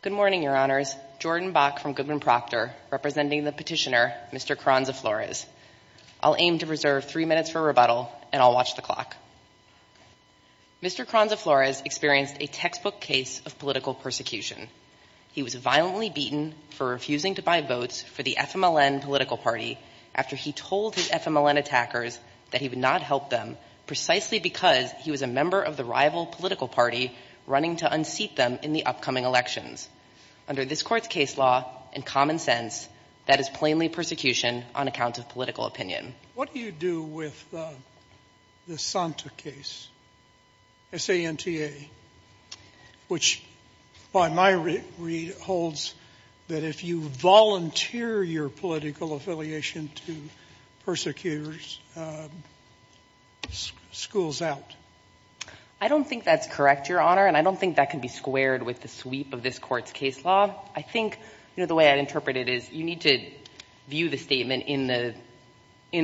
Good morning, your honors. Jordan Bach from Goodman Proctor, representing the petitioner Mr. Carranza-Flores. I'll aim to reserve three minutes for rebuttal, and I'll watch the clock. Mr. Carranza-Flores experienced a textbook case of political persecution. He was violently them precisely because he was a member of the rival political party running to unseat them in the upcoming elections. Under this court's case law and common sense, that is plainly persecution on account of political opinion. What do you do with the Santa case, S-A-N-T-A, which by my read holds that if you volunteer your political affiliation to persecutors, school's out? I don't think that's correct, your honor, and I don't think that can be squared with the sweep of this court's case law. I think, you know, the way I'd interpret it is you need to view the statement in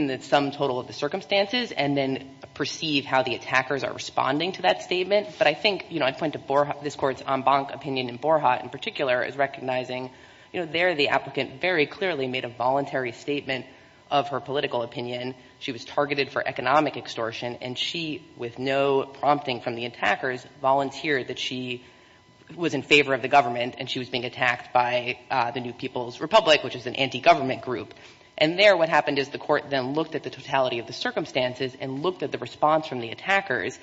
the sum total of the circumstances and then perceive how the attackers are responding to that statement. But I think, you know, I'd point to Borja this court's en banc opinion in Borja in particular is recognizing, you know, they're the applicant very clearly made a voluntary statement of her political opinion. She was targeted for economic extortion and she, with no prompting from the attackers, volunteered that she was in favor of the government and she was being attacked by the New People's Republic, which is an anti-government group. And there what happened is the court then looked at the totality of the circumstances and looked at the response from the attackers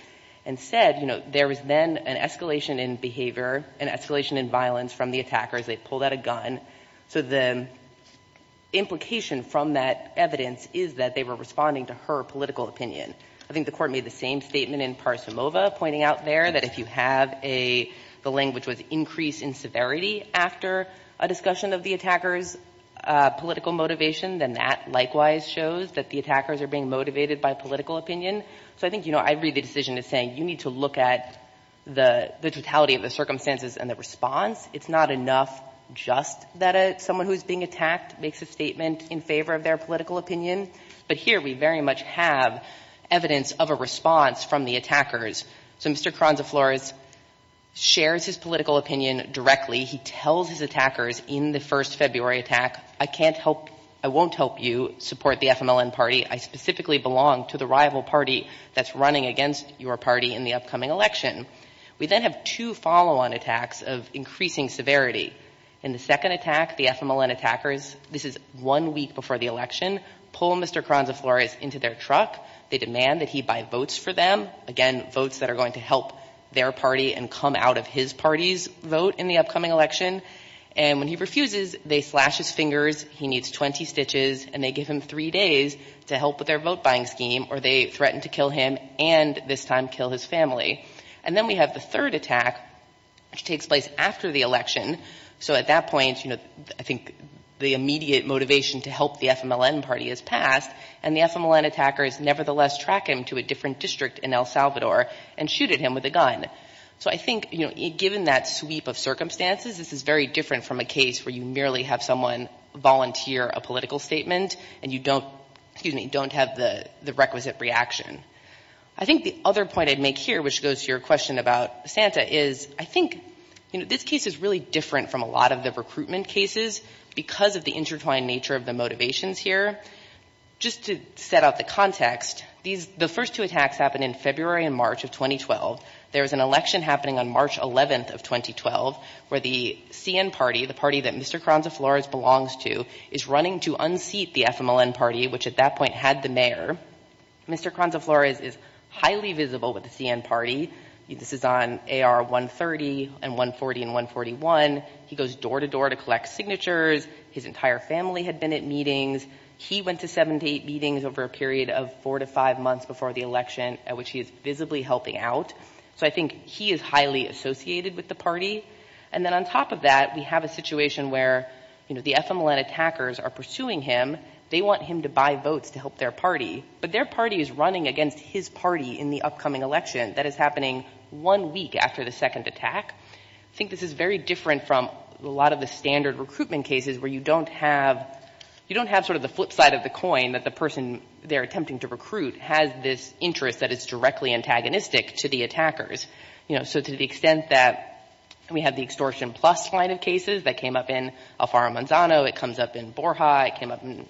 and said, you know, there was then an escalation in behavior, an escalation in violence from the attackers. They pulled out a gun. So the implication from that evidence is that they were responding to her political opinion. I think the court made the same statement in Parsimova, pointing out there that if you have a, the language was increase in severity after a discussion of the attacker's political motivation, then that likewise shows that the attackers are being motivated by political opinion. So I think, you know, I read the decision as saying you need to look at the totality of the circumstances and the response. It's not enough just that someone who's being attacked makes a statement in favor of their political opinion. But here we very much have evidence of a response from the attackers. So Mr. Kronzaflores shares his political opinion directly. He tells his attackers in the first February attack, I can't help, I won't help you support the FMLN party. I specifically belong to the rival party that's running against your party in the upcoming election. We then have two follow-on attacks of increasing severity. In the second attack, the FMLN attackers, this is one week before the election, pull Mr. Kronzaflores into their truck. They demand that he buy votes for them. Again, votes that are going to help their party and come out of his party's vote in the upcoming election. And when he refuses, they slash his fingers. He needs 20 stitches. And they give him three days to help with their vote And then we have the third attack, which takes place after the election. So at that point, you know, I think the immediate motivation to help the FMLN party is passed. And the FMLN attackers nevertheless track him to a different district in El Salvador and shoot at him with a gun. So I think, you know, given that sweep of circumstances, this is very different from a case where you merely have someone volunteer a political statement and you don't, excuse me, don't have the requisite reaction. I think the other point I'd make here, which goes to your question about Santa, is I think, you know, this case is really different from a lot of the recruitment cases because of the intertwined nature of the motivations here. Just to set out the context, the first two attacks happened in February and March of 2012. There was an election happening on March 11th of 2012 where the CN party, the party Mr. Cronza-Flores belongs to, is running to unseat the FMLN party, which at that point had the mayor. Mr. Cronza-Flores is highly visible with the CN party. This is on AR 130 and 140 and 141. He goes door to door to collect signatures. His entire family had been at meetings. He went to seven to eight meetings over a period of four to five months before the election, at which he is visibly helping out. So I think he is highly associated with the party. And then on top of that, we have a situation where, you know, the FMLN attackers are pursuing him. They want him to buy votes to help their party. But their party is running against his party in the upcoming election. That is happening one week after the second attack. I think this is very different from a lot of the standard recruitment cases where you don't have, you don't have sort of the flip side of the coin that the person they're attempting to recruit has this interest that is directly antagonistic to the attackers. You know, so to the extent that we have the extortion plus line of cases that came up in Alfaro Manzano, it comes up in Borja, it came up in,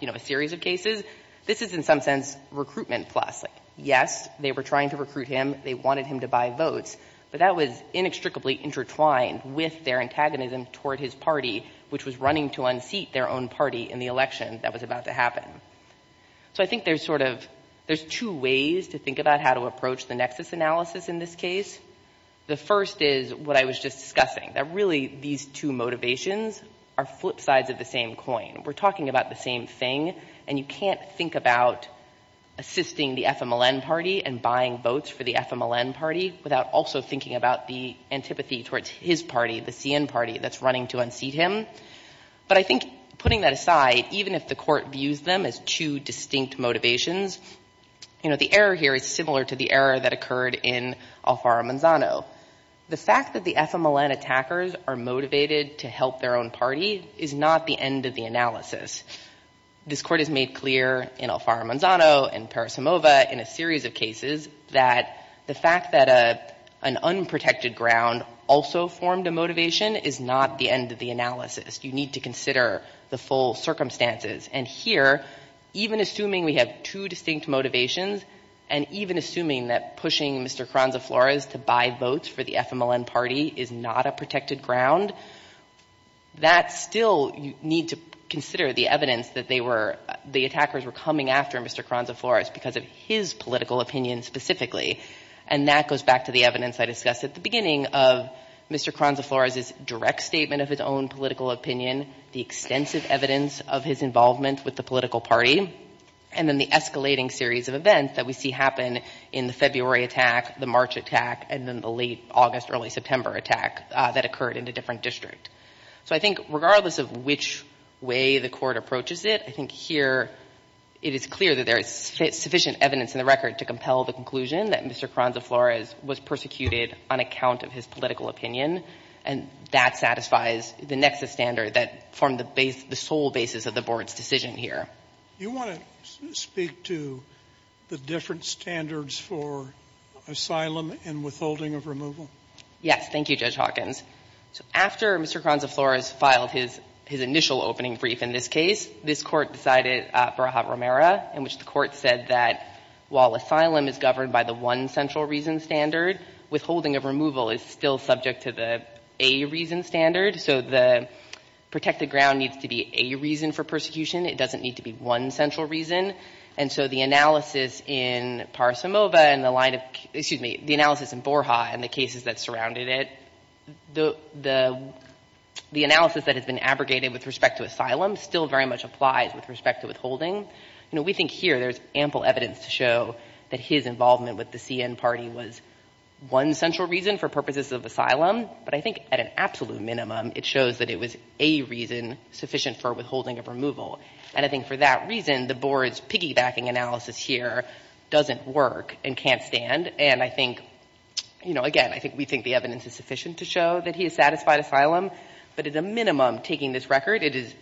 you know, a series of cases. This is in some sense recruitment plus. Yes, they were trying to recruit him. They wanted him to buy votes. But that was inextricably intertwined with their antagonism toward his party, which was running to unseat their own party in the election that was about to happen. So I think there's sort of, there's two ways to think about how to approach the nexus analysis in this case. The first is what I was just discussing, that really these two motivations are flip sides of the same coin. We're talking about the same thing. And you can't think about assisting the FMLN party and buying votes for the FMLN party without also thinking about the antipathy towards his party, the CN party, that's running to unseat him. But I think putting that aside, even if the court views them as two distinct motivations, you know, the error here is similar to the error that occurred in Alfaro Manzano. The fact that the FMLN attackers are motivated to help their own party is not the end of the analysis. This court has made clear in Alfaro Manzano, in Parasimova, in a series of cases, that the fact that an unprotected ground also formed a motivation is not the end of the analysis. You need to consider, assuming we have two distinct motivations, and even assuming that pushing Mr. Kranza-Flores to buy votes for the FMLN party is not a protected ground, that still you need to consider the evidence that they were, the attackers were coming after Mr. Kranza-Flores because of his political opinion specifically. And that goes back to the evidence I discussed at the beginning of Mr. Kranza-Flores' direct statement of his own political opinion, the extensive evidence of his involvement with the political party, and then the escalating series of events that we see happen in the February attack, the March attack, and then the late August, early September attack that occurred in a different district. So I think regardless of which way the court approaches it, I think here it is clear that there is sufficient evidence in the record to compel the conclusion that Mr. Kranza-Flores was persecuted on account of his political opinion, and that satisfies the nexus standard that formed the sole basis of the board's decision here. Yes. Thank you, Judge Hawkins. So after Mr. Kranza-Flores filed his initial opening brief in this case, this Court decided, Braha-Romero, in which the Court said that while asylum is governed by the one central reason standard, withholding of removal is still subject to the A reason standard. So the protected ground needs to be A reason for persecution. It doesn't need to be one central reason. And so the analysis in Barisimova and the line of, excuse me, the analysis in Borja and the cases that surrounded it, the analysis that has been abrogated with respect to asylum still very much applies with respect to withholding. You know, we think here there is ample evidence to show that his involvement with the CN party was one central reason for purposes of asylum. But I think at an absolute minimum, it shows that it was A reason sufficient for withholding of removal. And I think for that reason, the board's piggybacking analysis here doesn't work and can't stand. And I think, you know, again, I think we think the evidence is sufficient to show that he has satisfied asylum. But at a minimum, taking this record, it is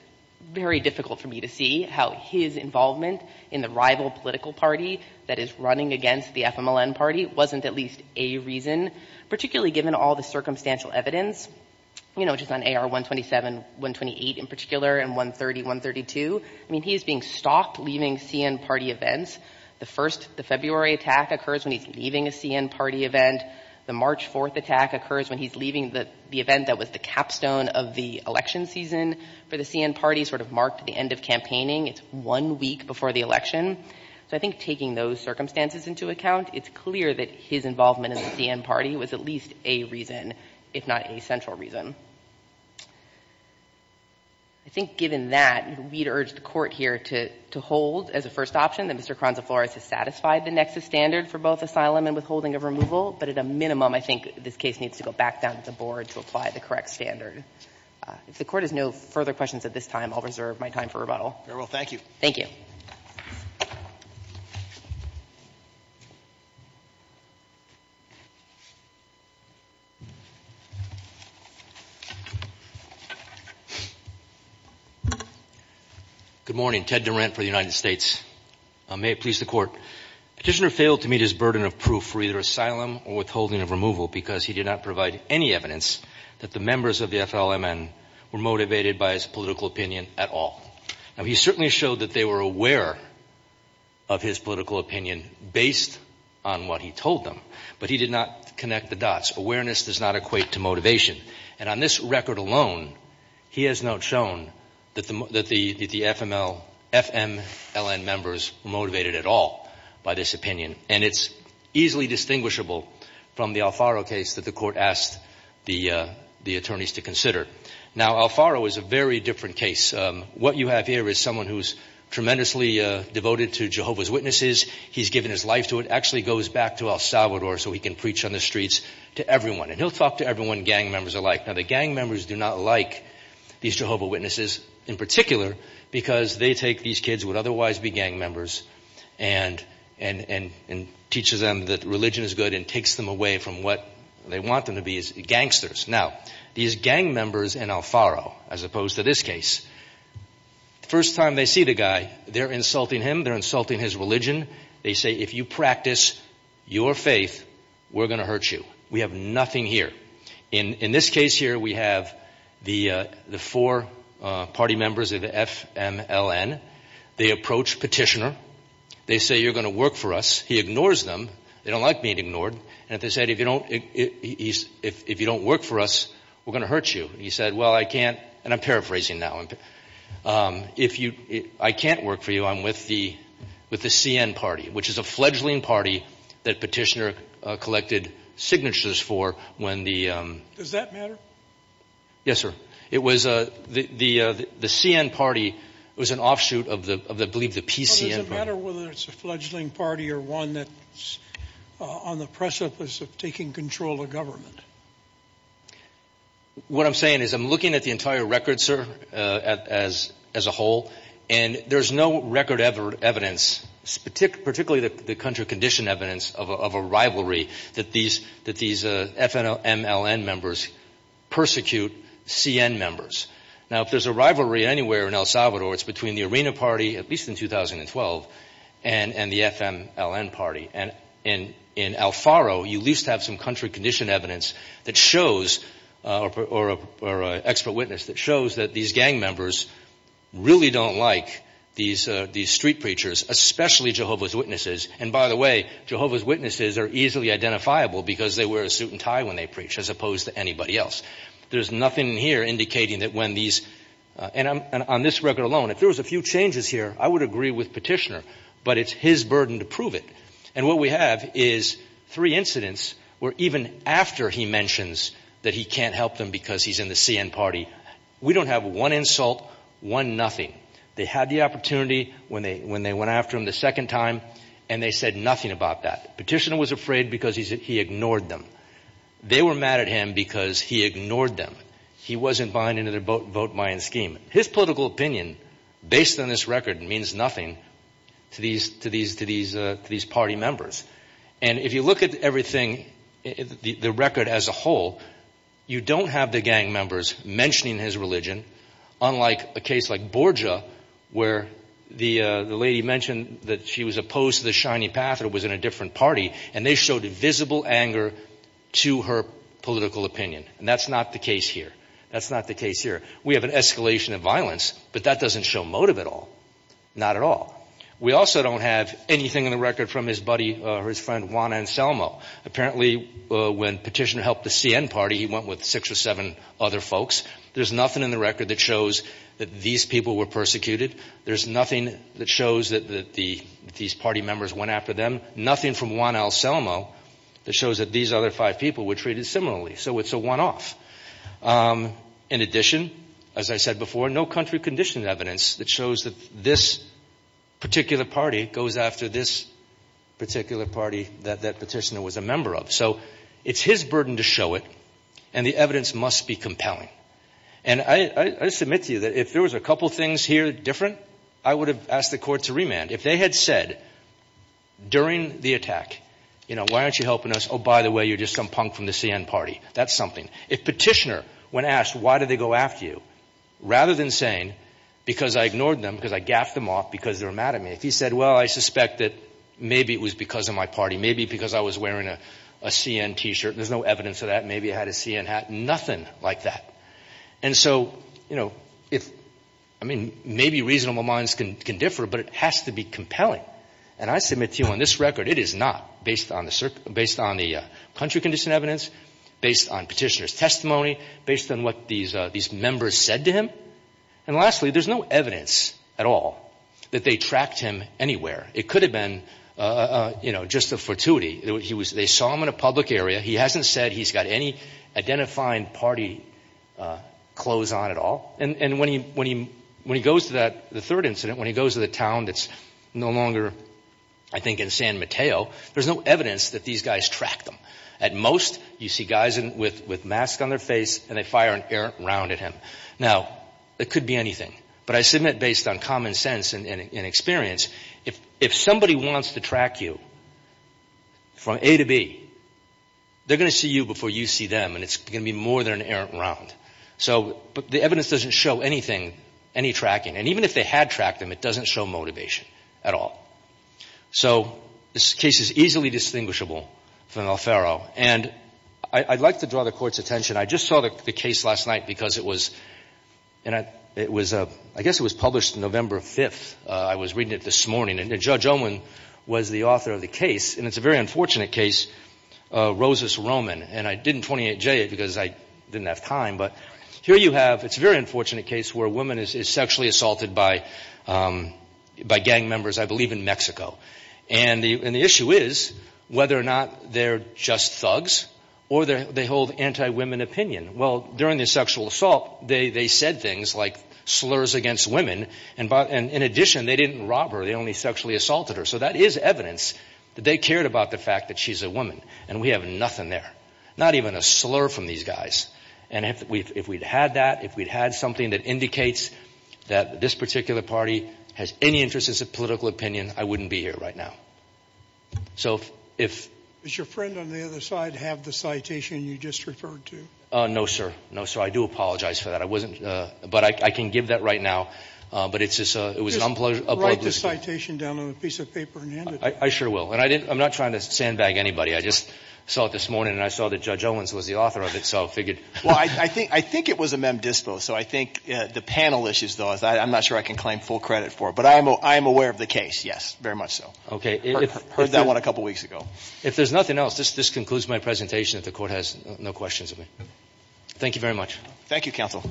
very difficult for me to see how his involvement in the rival political party that is running against the FMLN party wasn't at least A reason, particularly given all the circumstantial evidence, you know, just on AR-127, 128 in particular, and 130, 132. I mean, he is being stopped leaving CN party events. The first, the February attack occurs when he's leaving a CN party event. The March 4th attack occurs when he's leaving the event that was the capstone of the election season for the CN party, sort of marked the end of campaigning. It's one week before the election. So I think taking those circumstances into account, it's clear that his involvement in the CN party was at least A reason, if not A central reason. I think given that, we'd urge the Court here to hold as a first option that Mr. Kronzaflores has satisfied the nexus standard for both asylum and withholding of removal. But at a minimum, I think this case needs to go back down to the board to apply the correct standard. If the Court has no further questions at this time, I'll reserve my time for rebuttal. Very well. Thank you. Thank you. Good morning. Ted Durant for the United States. May it please the Court. Petitioner failed to meet his burden of proof for either asylum or withholding of removal because he did not provide any evidence that the members of the FLMN were motivated by his political opinion at all. Now, he certainly showed that they were aware of his political opinion based on what he told them, but he did not connect the dots. Awareness does not equate to motivation. And on this record alone, he has not shown that the FMLN members were motivated at all by this opinion. And it's easily distinguishable from the Alfaro case that the Court asked the attorneys to consider. Now, Alfaro is a very different case. What you have here is someone who's tremendously devoted to Jehovah's Witnesses. He's given his life to it. Actually goes back to El Salvador so he can preach on the streets to everyone. And he'll talk to everyone gang members alike. Now, the gang members do not like these Jehovah Witnesses in particular because they take these kids who would otherwise be gang members and teaches them that religion is good and takes them away from what they want them to be as gangsters. Now, these gang members in Alfaro, as opposed to this case, first time they see the guy, they're insulting him. They're insulting his religion. They say, if you practice your faith, we're going to hurt you. We have nothing here. In this case here, we have the four party members of the FMLN. They approach Petitioner. They say, you're going to work for us. He ignores them. They don't like being ignored. They said, if you don't work for us, we're going to hurt you. He said, well, I can't, and I'm paraphrasing now. If I can't work for you, I'm with the CN party, which is a fledgling party that Petitioner collected signatures for when the... Does that matter? Yes, sir. The CN party was an offshoot of, I believe, the PCN party. Does it matter whether it's a fledgling party or one that's on the precipice of taking control of government? What I'm saying is I'm looking at the entire record, sir, as a whole, and there's no record evidence, particularly the country condition evidence of a rivalry that these FMLN members persecute CN members. Now, if there's a rivalry between the CN party and the FMLN party, and in Alfaro, you at least have some country condition evidence that shows, or expert witness that shows that these gang members really don't like these street preachers, especially Jehovah's Witnesses. And by the way, Jehovah's Witnesses are easily identifiable because they wear a suit and tie when they preach, as opposed to anybody else. There's nothing here indicating that when these... On this record alone, if there was a few changes here, I would agree with Petitioner, but it's his burden to prove it. And what we have is three incidents where even after he mentions that he can't help them because he's in the CN party, we don't have one insult, one nothing. They had the opportunity when they went after him the second time, and they said nothing about that. Petitioner was afraid because he ignored them. They were mad at him because he ignored them. He wasn't buying into their vote-buying scheme. His political opinion, based on this record, means nothing to these party members. And if you look at everything, the record as a whole, you don't have the gang members mentioning his religion, unlike a case like Borja, where the lady mentioned that she was opposed to the shiny path or was in a different party, and they showed visible anger to her political opinion. And that's not the case here. That's not the case here. We have an escalation of violence, but that doesn't show motive at all. Not at all. We also don't have anything in the record from his buddy, or his friend, Juan Anselmo. Apparently when Petitioner helped the CN party, he went with six or seven other folks. There's nothing in the record that shows that these people were persecuted. There's nothing that shows that these party members went after them. Nothing from Juan Anselmo that shows that these other five people were treated similarly. So it's a one-off. In addition, as I said before, no country-conditioned evidence that shows that this particular party goes after this particular party that that Petitioner was a member of. So it's his burden to show it, and the evidence must be compelling. And I submit to you that if there was a couple things here different, I would have asked the court to remand. If they had said during the attack, you know, why aren't you helping us? Oh, by the way, you're just some punk from the CN party. That's something. If Petitioner, when asked, why did they go after you, rather than saying, because I ignored them, because I gaffed them off because they were mad at me, if he said, well, I suspect that maybe it was because of my party, maybe because I was wearing a CN t-shirt, there's no evidence of that, maybe I had a CN hat, nothing like that. And so, you know, if, I mean, maybe reasonable minds can differ, but it has to be compelling. And I submit to you on this record, it is not, based on the country-conditioned evidence, based on Petitioner's testimony, based on what these members said to him, and lastly, there's no evidence at all that they tracked him anywhere. It could have been, you know, just a fortuity. They saw him in a public area. He hasn't said he's got any identifying party clothes on at all. And when he goes to that, the third incident, when he goes to the town that's no longer, I think, in San Mateo, there's no evidence that these guys tracked him. At most, you see guys with masks on their face, and they fire an errant round at him. Now, it could be anything, but I submit, based on common sense and experience, if somebody wants to track you, from A to B, they're going to see you before you see them, and it's going to be more than an errant round. So, the evidence doesn't show anything, any tracking, and even if they had tracked him, it doesn't show motivation at all. So, this case is easily distinguishable from Alfaro, and I'd like to draw the Court's attention. I just saw the case last night, because it was, I guess it was published November 5th. I was reading it this morning, and Judge Owen was the author of the case, and it's a very unfortunate case, Rosas-Roman. And I didn't 28J it, because I didn't have time, but here you have, it's a very unfortunate case where a woman is sexually assaulted by gang members, I believe in Mexico. And the issue is whether or not they're just thugs, or they hold anti-women opinion. Well, during the sexual assault, they said things like slurs against women, and in addition, they didn't rob her, they only sexually assaulted her. So, that is evidence that they cared about the fact that she's a woman, and we have nothing there, not even a slur from these guys. And if we'd had that, if we'd had something that this particular party has any interest in political opinion, I wouldn't be here right now. So, if... No, sir. No, sir. I do apologize for that. I wasn't, but I can give that right now, but it's just, it was an unpleasant... I sure will. And I didn't, I'm not trying to sandbag anybody. I just saw it this morning, and I saw that Judge Owens was the author of it, so I figured... I'm not sure I can claim full credit for it. But I am aware of the case, yes, very much so. I heard that one a couple weeks ago. If there's nothing else, this concludes my presentation, if the Court has no questions of me. Thank you very much. Thank you, Counsel.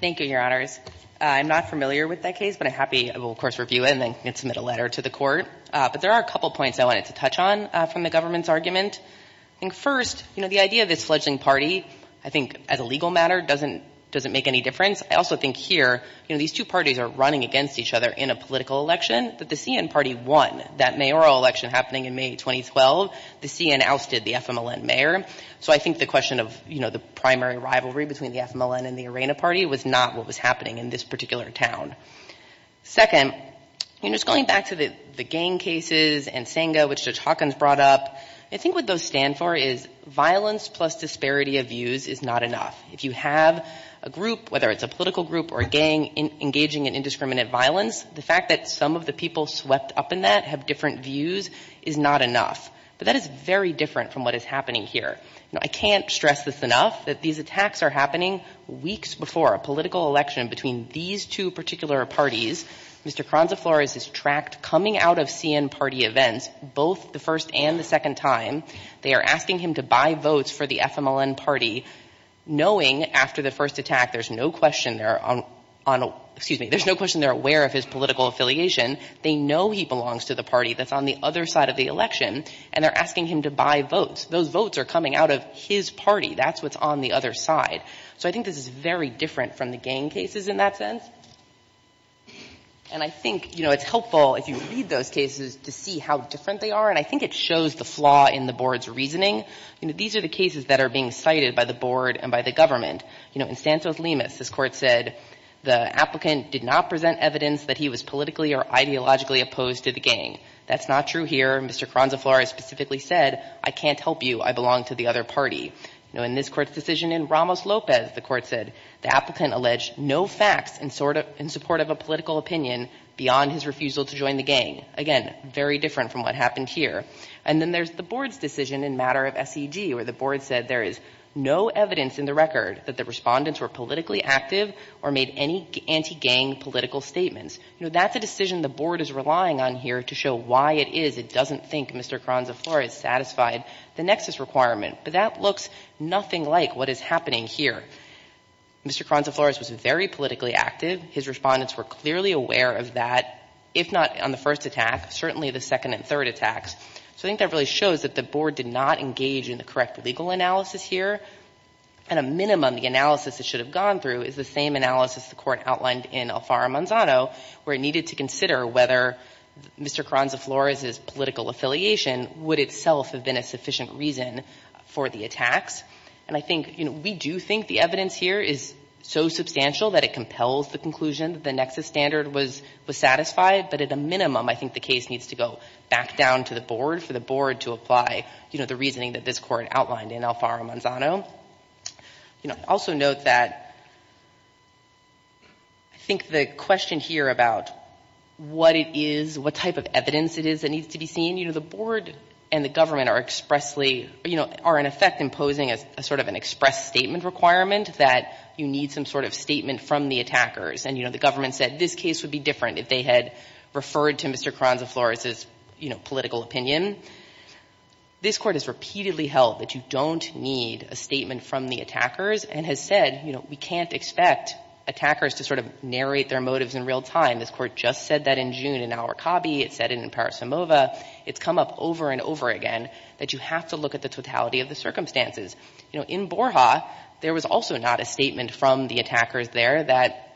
Thank you, Your Honors. I'm not familiar with that case, but I'm happy, I will, of course, review it, and then submit a letter to the Court. I think first, you know, the idea of this fledgling party, I think, as a legal matter, doesn't make any difference. I also think here, you know, these two parties are running against each other in a political election, but the CN party won that mayoral election happening in May 2012. The CN ousted the FMLN mayor. So I think the question of, you know, the primary rivalry between the FMLN and the ARENA party was not what was happening in this particular town. Second, you know, just going back to the gang cases and Senga, which Judge Hawkins brought up, I think what those stand for is violence plus disparity of views is not enough. If you have a group, whether it's a political group or a gang, engaging in indiscriminate violence, the fact that some of the people swept up in that have different views is not enough. But that is very different from what is happening here. Now, I can't stress this enough, that these attacks are happening weeks before a political election between these two parties. Mr. Kronzaflores is tracked coming out of CN party events, both the first and the second time. They are asking him to buy votes for the FMLN party, knowing after the first attack there's no question they're on, excuse me, there's no question they're aware of his political affiliation. They know he belongs to the party that's on the other side of the election, and they're asking him to buy votes. Those votes are coming out of his party. That's what's on the other side. So I think this is very different from the gang cases in that sense. And I think, you know, it's helpful if you read those cases to see how different they are, and I think it shows the flaw in the board's reasoning. These are the cases that are being cited by the board and by the government. You know, in Santos Lemus, this court said the applicant did not present evidence that he was politically or ideologically opposed to the gang. That's not true here. Mr. Kronzaflores specifically said, I can't help you, I belong to the other party. You know, in this court's decision in Ramos Lopez, the court said the applicant alleged no facts in support of a political opinion beyond his refusal to join the gang. Again, very different from what happened here. And then there's the board's decision in matter of SED where the board said there is no evidence in the record that the respondents were politically active or made any anti-gang political statements. You know, that's a decision the board is relying on here to show why it is it doesn't think Mr. Kronzaflores satisfied the nexus requirement. But that looks nothing like what is happening here. Mr. Kronzaflores was very politically active. His respondents were clearly aware of that, if not on the first attack, certainly the second and third attacks. So I think that really shows that the board did not engage in the correct legal analysis here. At a minimum, the analysis it should have gone through is the same analysis the court outlined in Alfaro-Manzano where it needed to show that the attacks themselves have been a sufficient reason for the attacks. And I think, you know, we do think the evidence here is so substantial that it compels the conclusion that the nexus standard was satisfied. But at a minimum, I think the case needs to go back down to the board for the board to apply, you know, the reasoning that this court outlined in Alfaro-Manzano. You know, also note that I think the question here about what it is, what type of evidence it is that needs to be seen, you know, the board and the government are expressly, you know, are in effect imposing a sort of an express statement requirement that you need some sort of statement from the attackers. And, you know, the government said this case would be different if they had referred to Mr. Kronzaflores's, you know, political opinion. This court has repeatedly held that you don't need a statement from the attackers and has said, you know, we can't expect attackers to sort of narrate their motives in real time. This court just said that in June in Al Rokabi. It said it in Parasumova. It's come up over and over again that you have to look at the totality of the circumstances. You know, in Borja, there was also not a statement from the attackers there that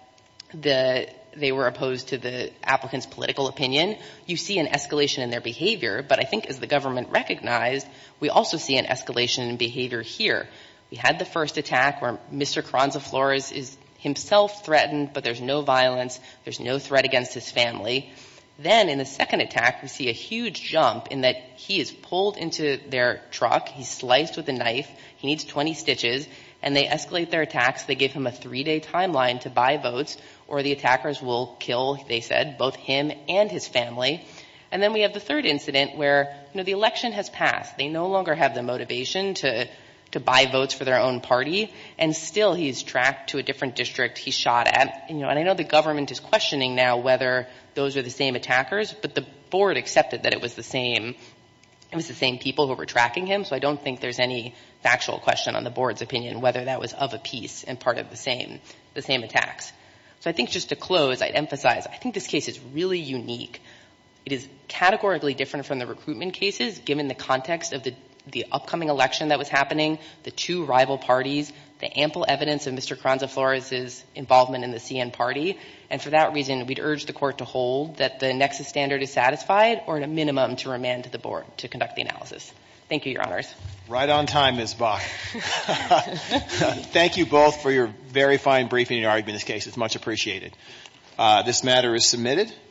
they were opposed to the applicant's political opinion. You see an escalation in their behavior. But I think as the government recognized, we also see an escalation in behavior here. We had the first attack where Mr. Kronzaflores is himself threatened, but there's no violence. There's no threat against his family. Then in the second attack, we see a huge jump in that he is pulled into their truck. He's sliced with a knife. He needs 20 stitches. And they escalate their attacks. They give him a three-day timeline to buy votes or the attackers will kill, they said, both him and his family. And then we have the third incident where, you know, the election has passed. They no longer have the motivation to buy votes for their own party. And still he's tracked to a different district he shot at. And I know the government is questioning now whether those are the same attackers, but the board accepted that it was the same people who were tracking him. So I don't think there's any factual question on the board's opinion whether that was of a piece and part of the same attacks. So I think just to close, I'd emphasize, I think this case is really unique. It is categorically different from the recruitment cases, given the context of the upcoming election that was happening, the two rival parties, the ample evidence of Mr. Carranza-Flores' involvement in the CN party. And for that reason, we'd urge the Court to hold that the nexus standard is satisfied or at a minimum to remand to the board to conduct the analysis. Thank you, Your Honors. Thank you both for your very fine briefing and argument in this case. It's much appreciated. This matter is submitted.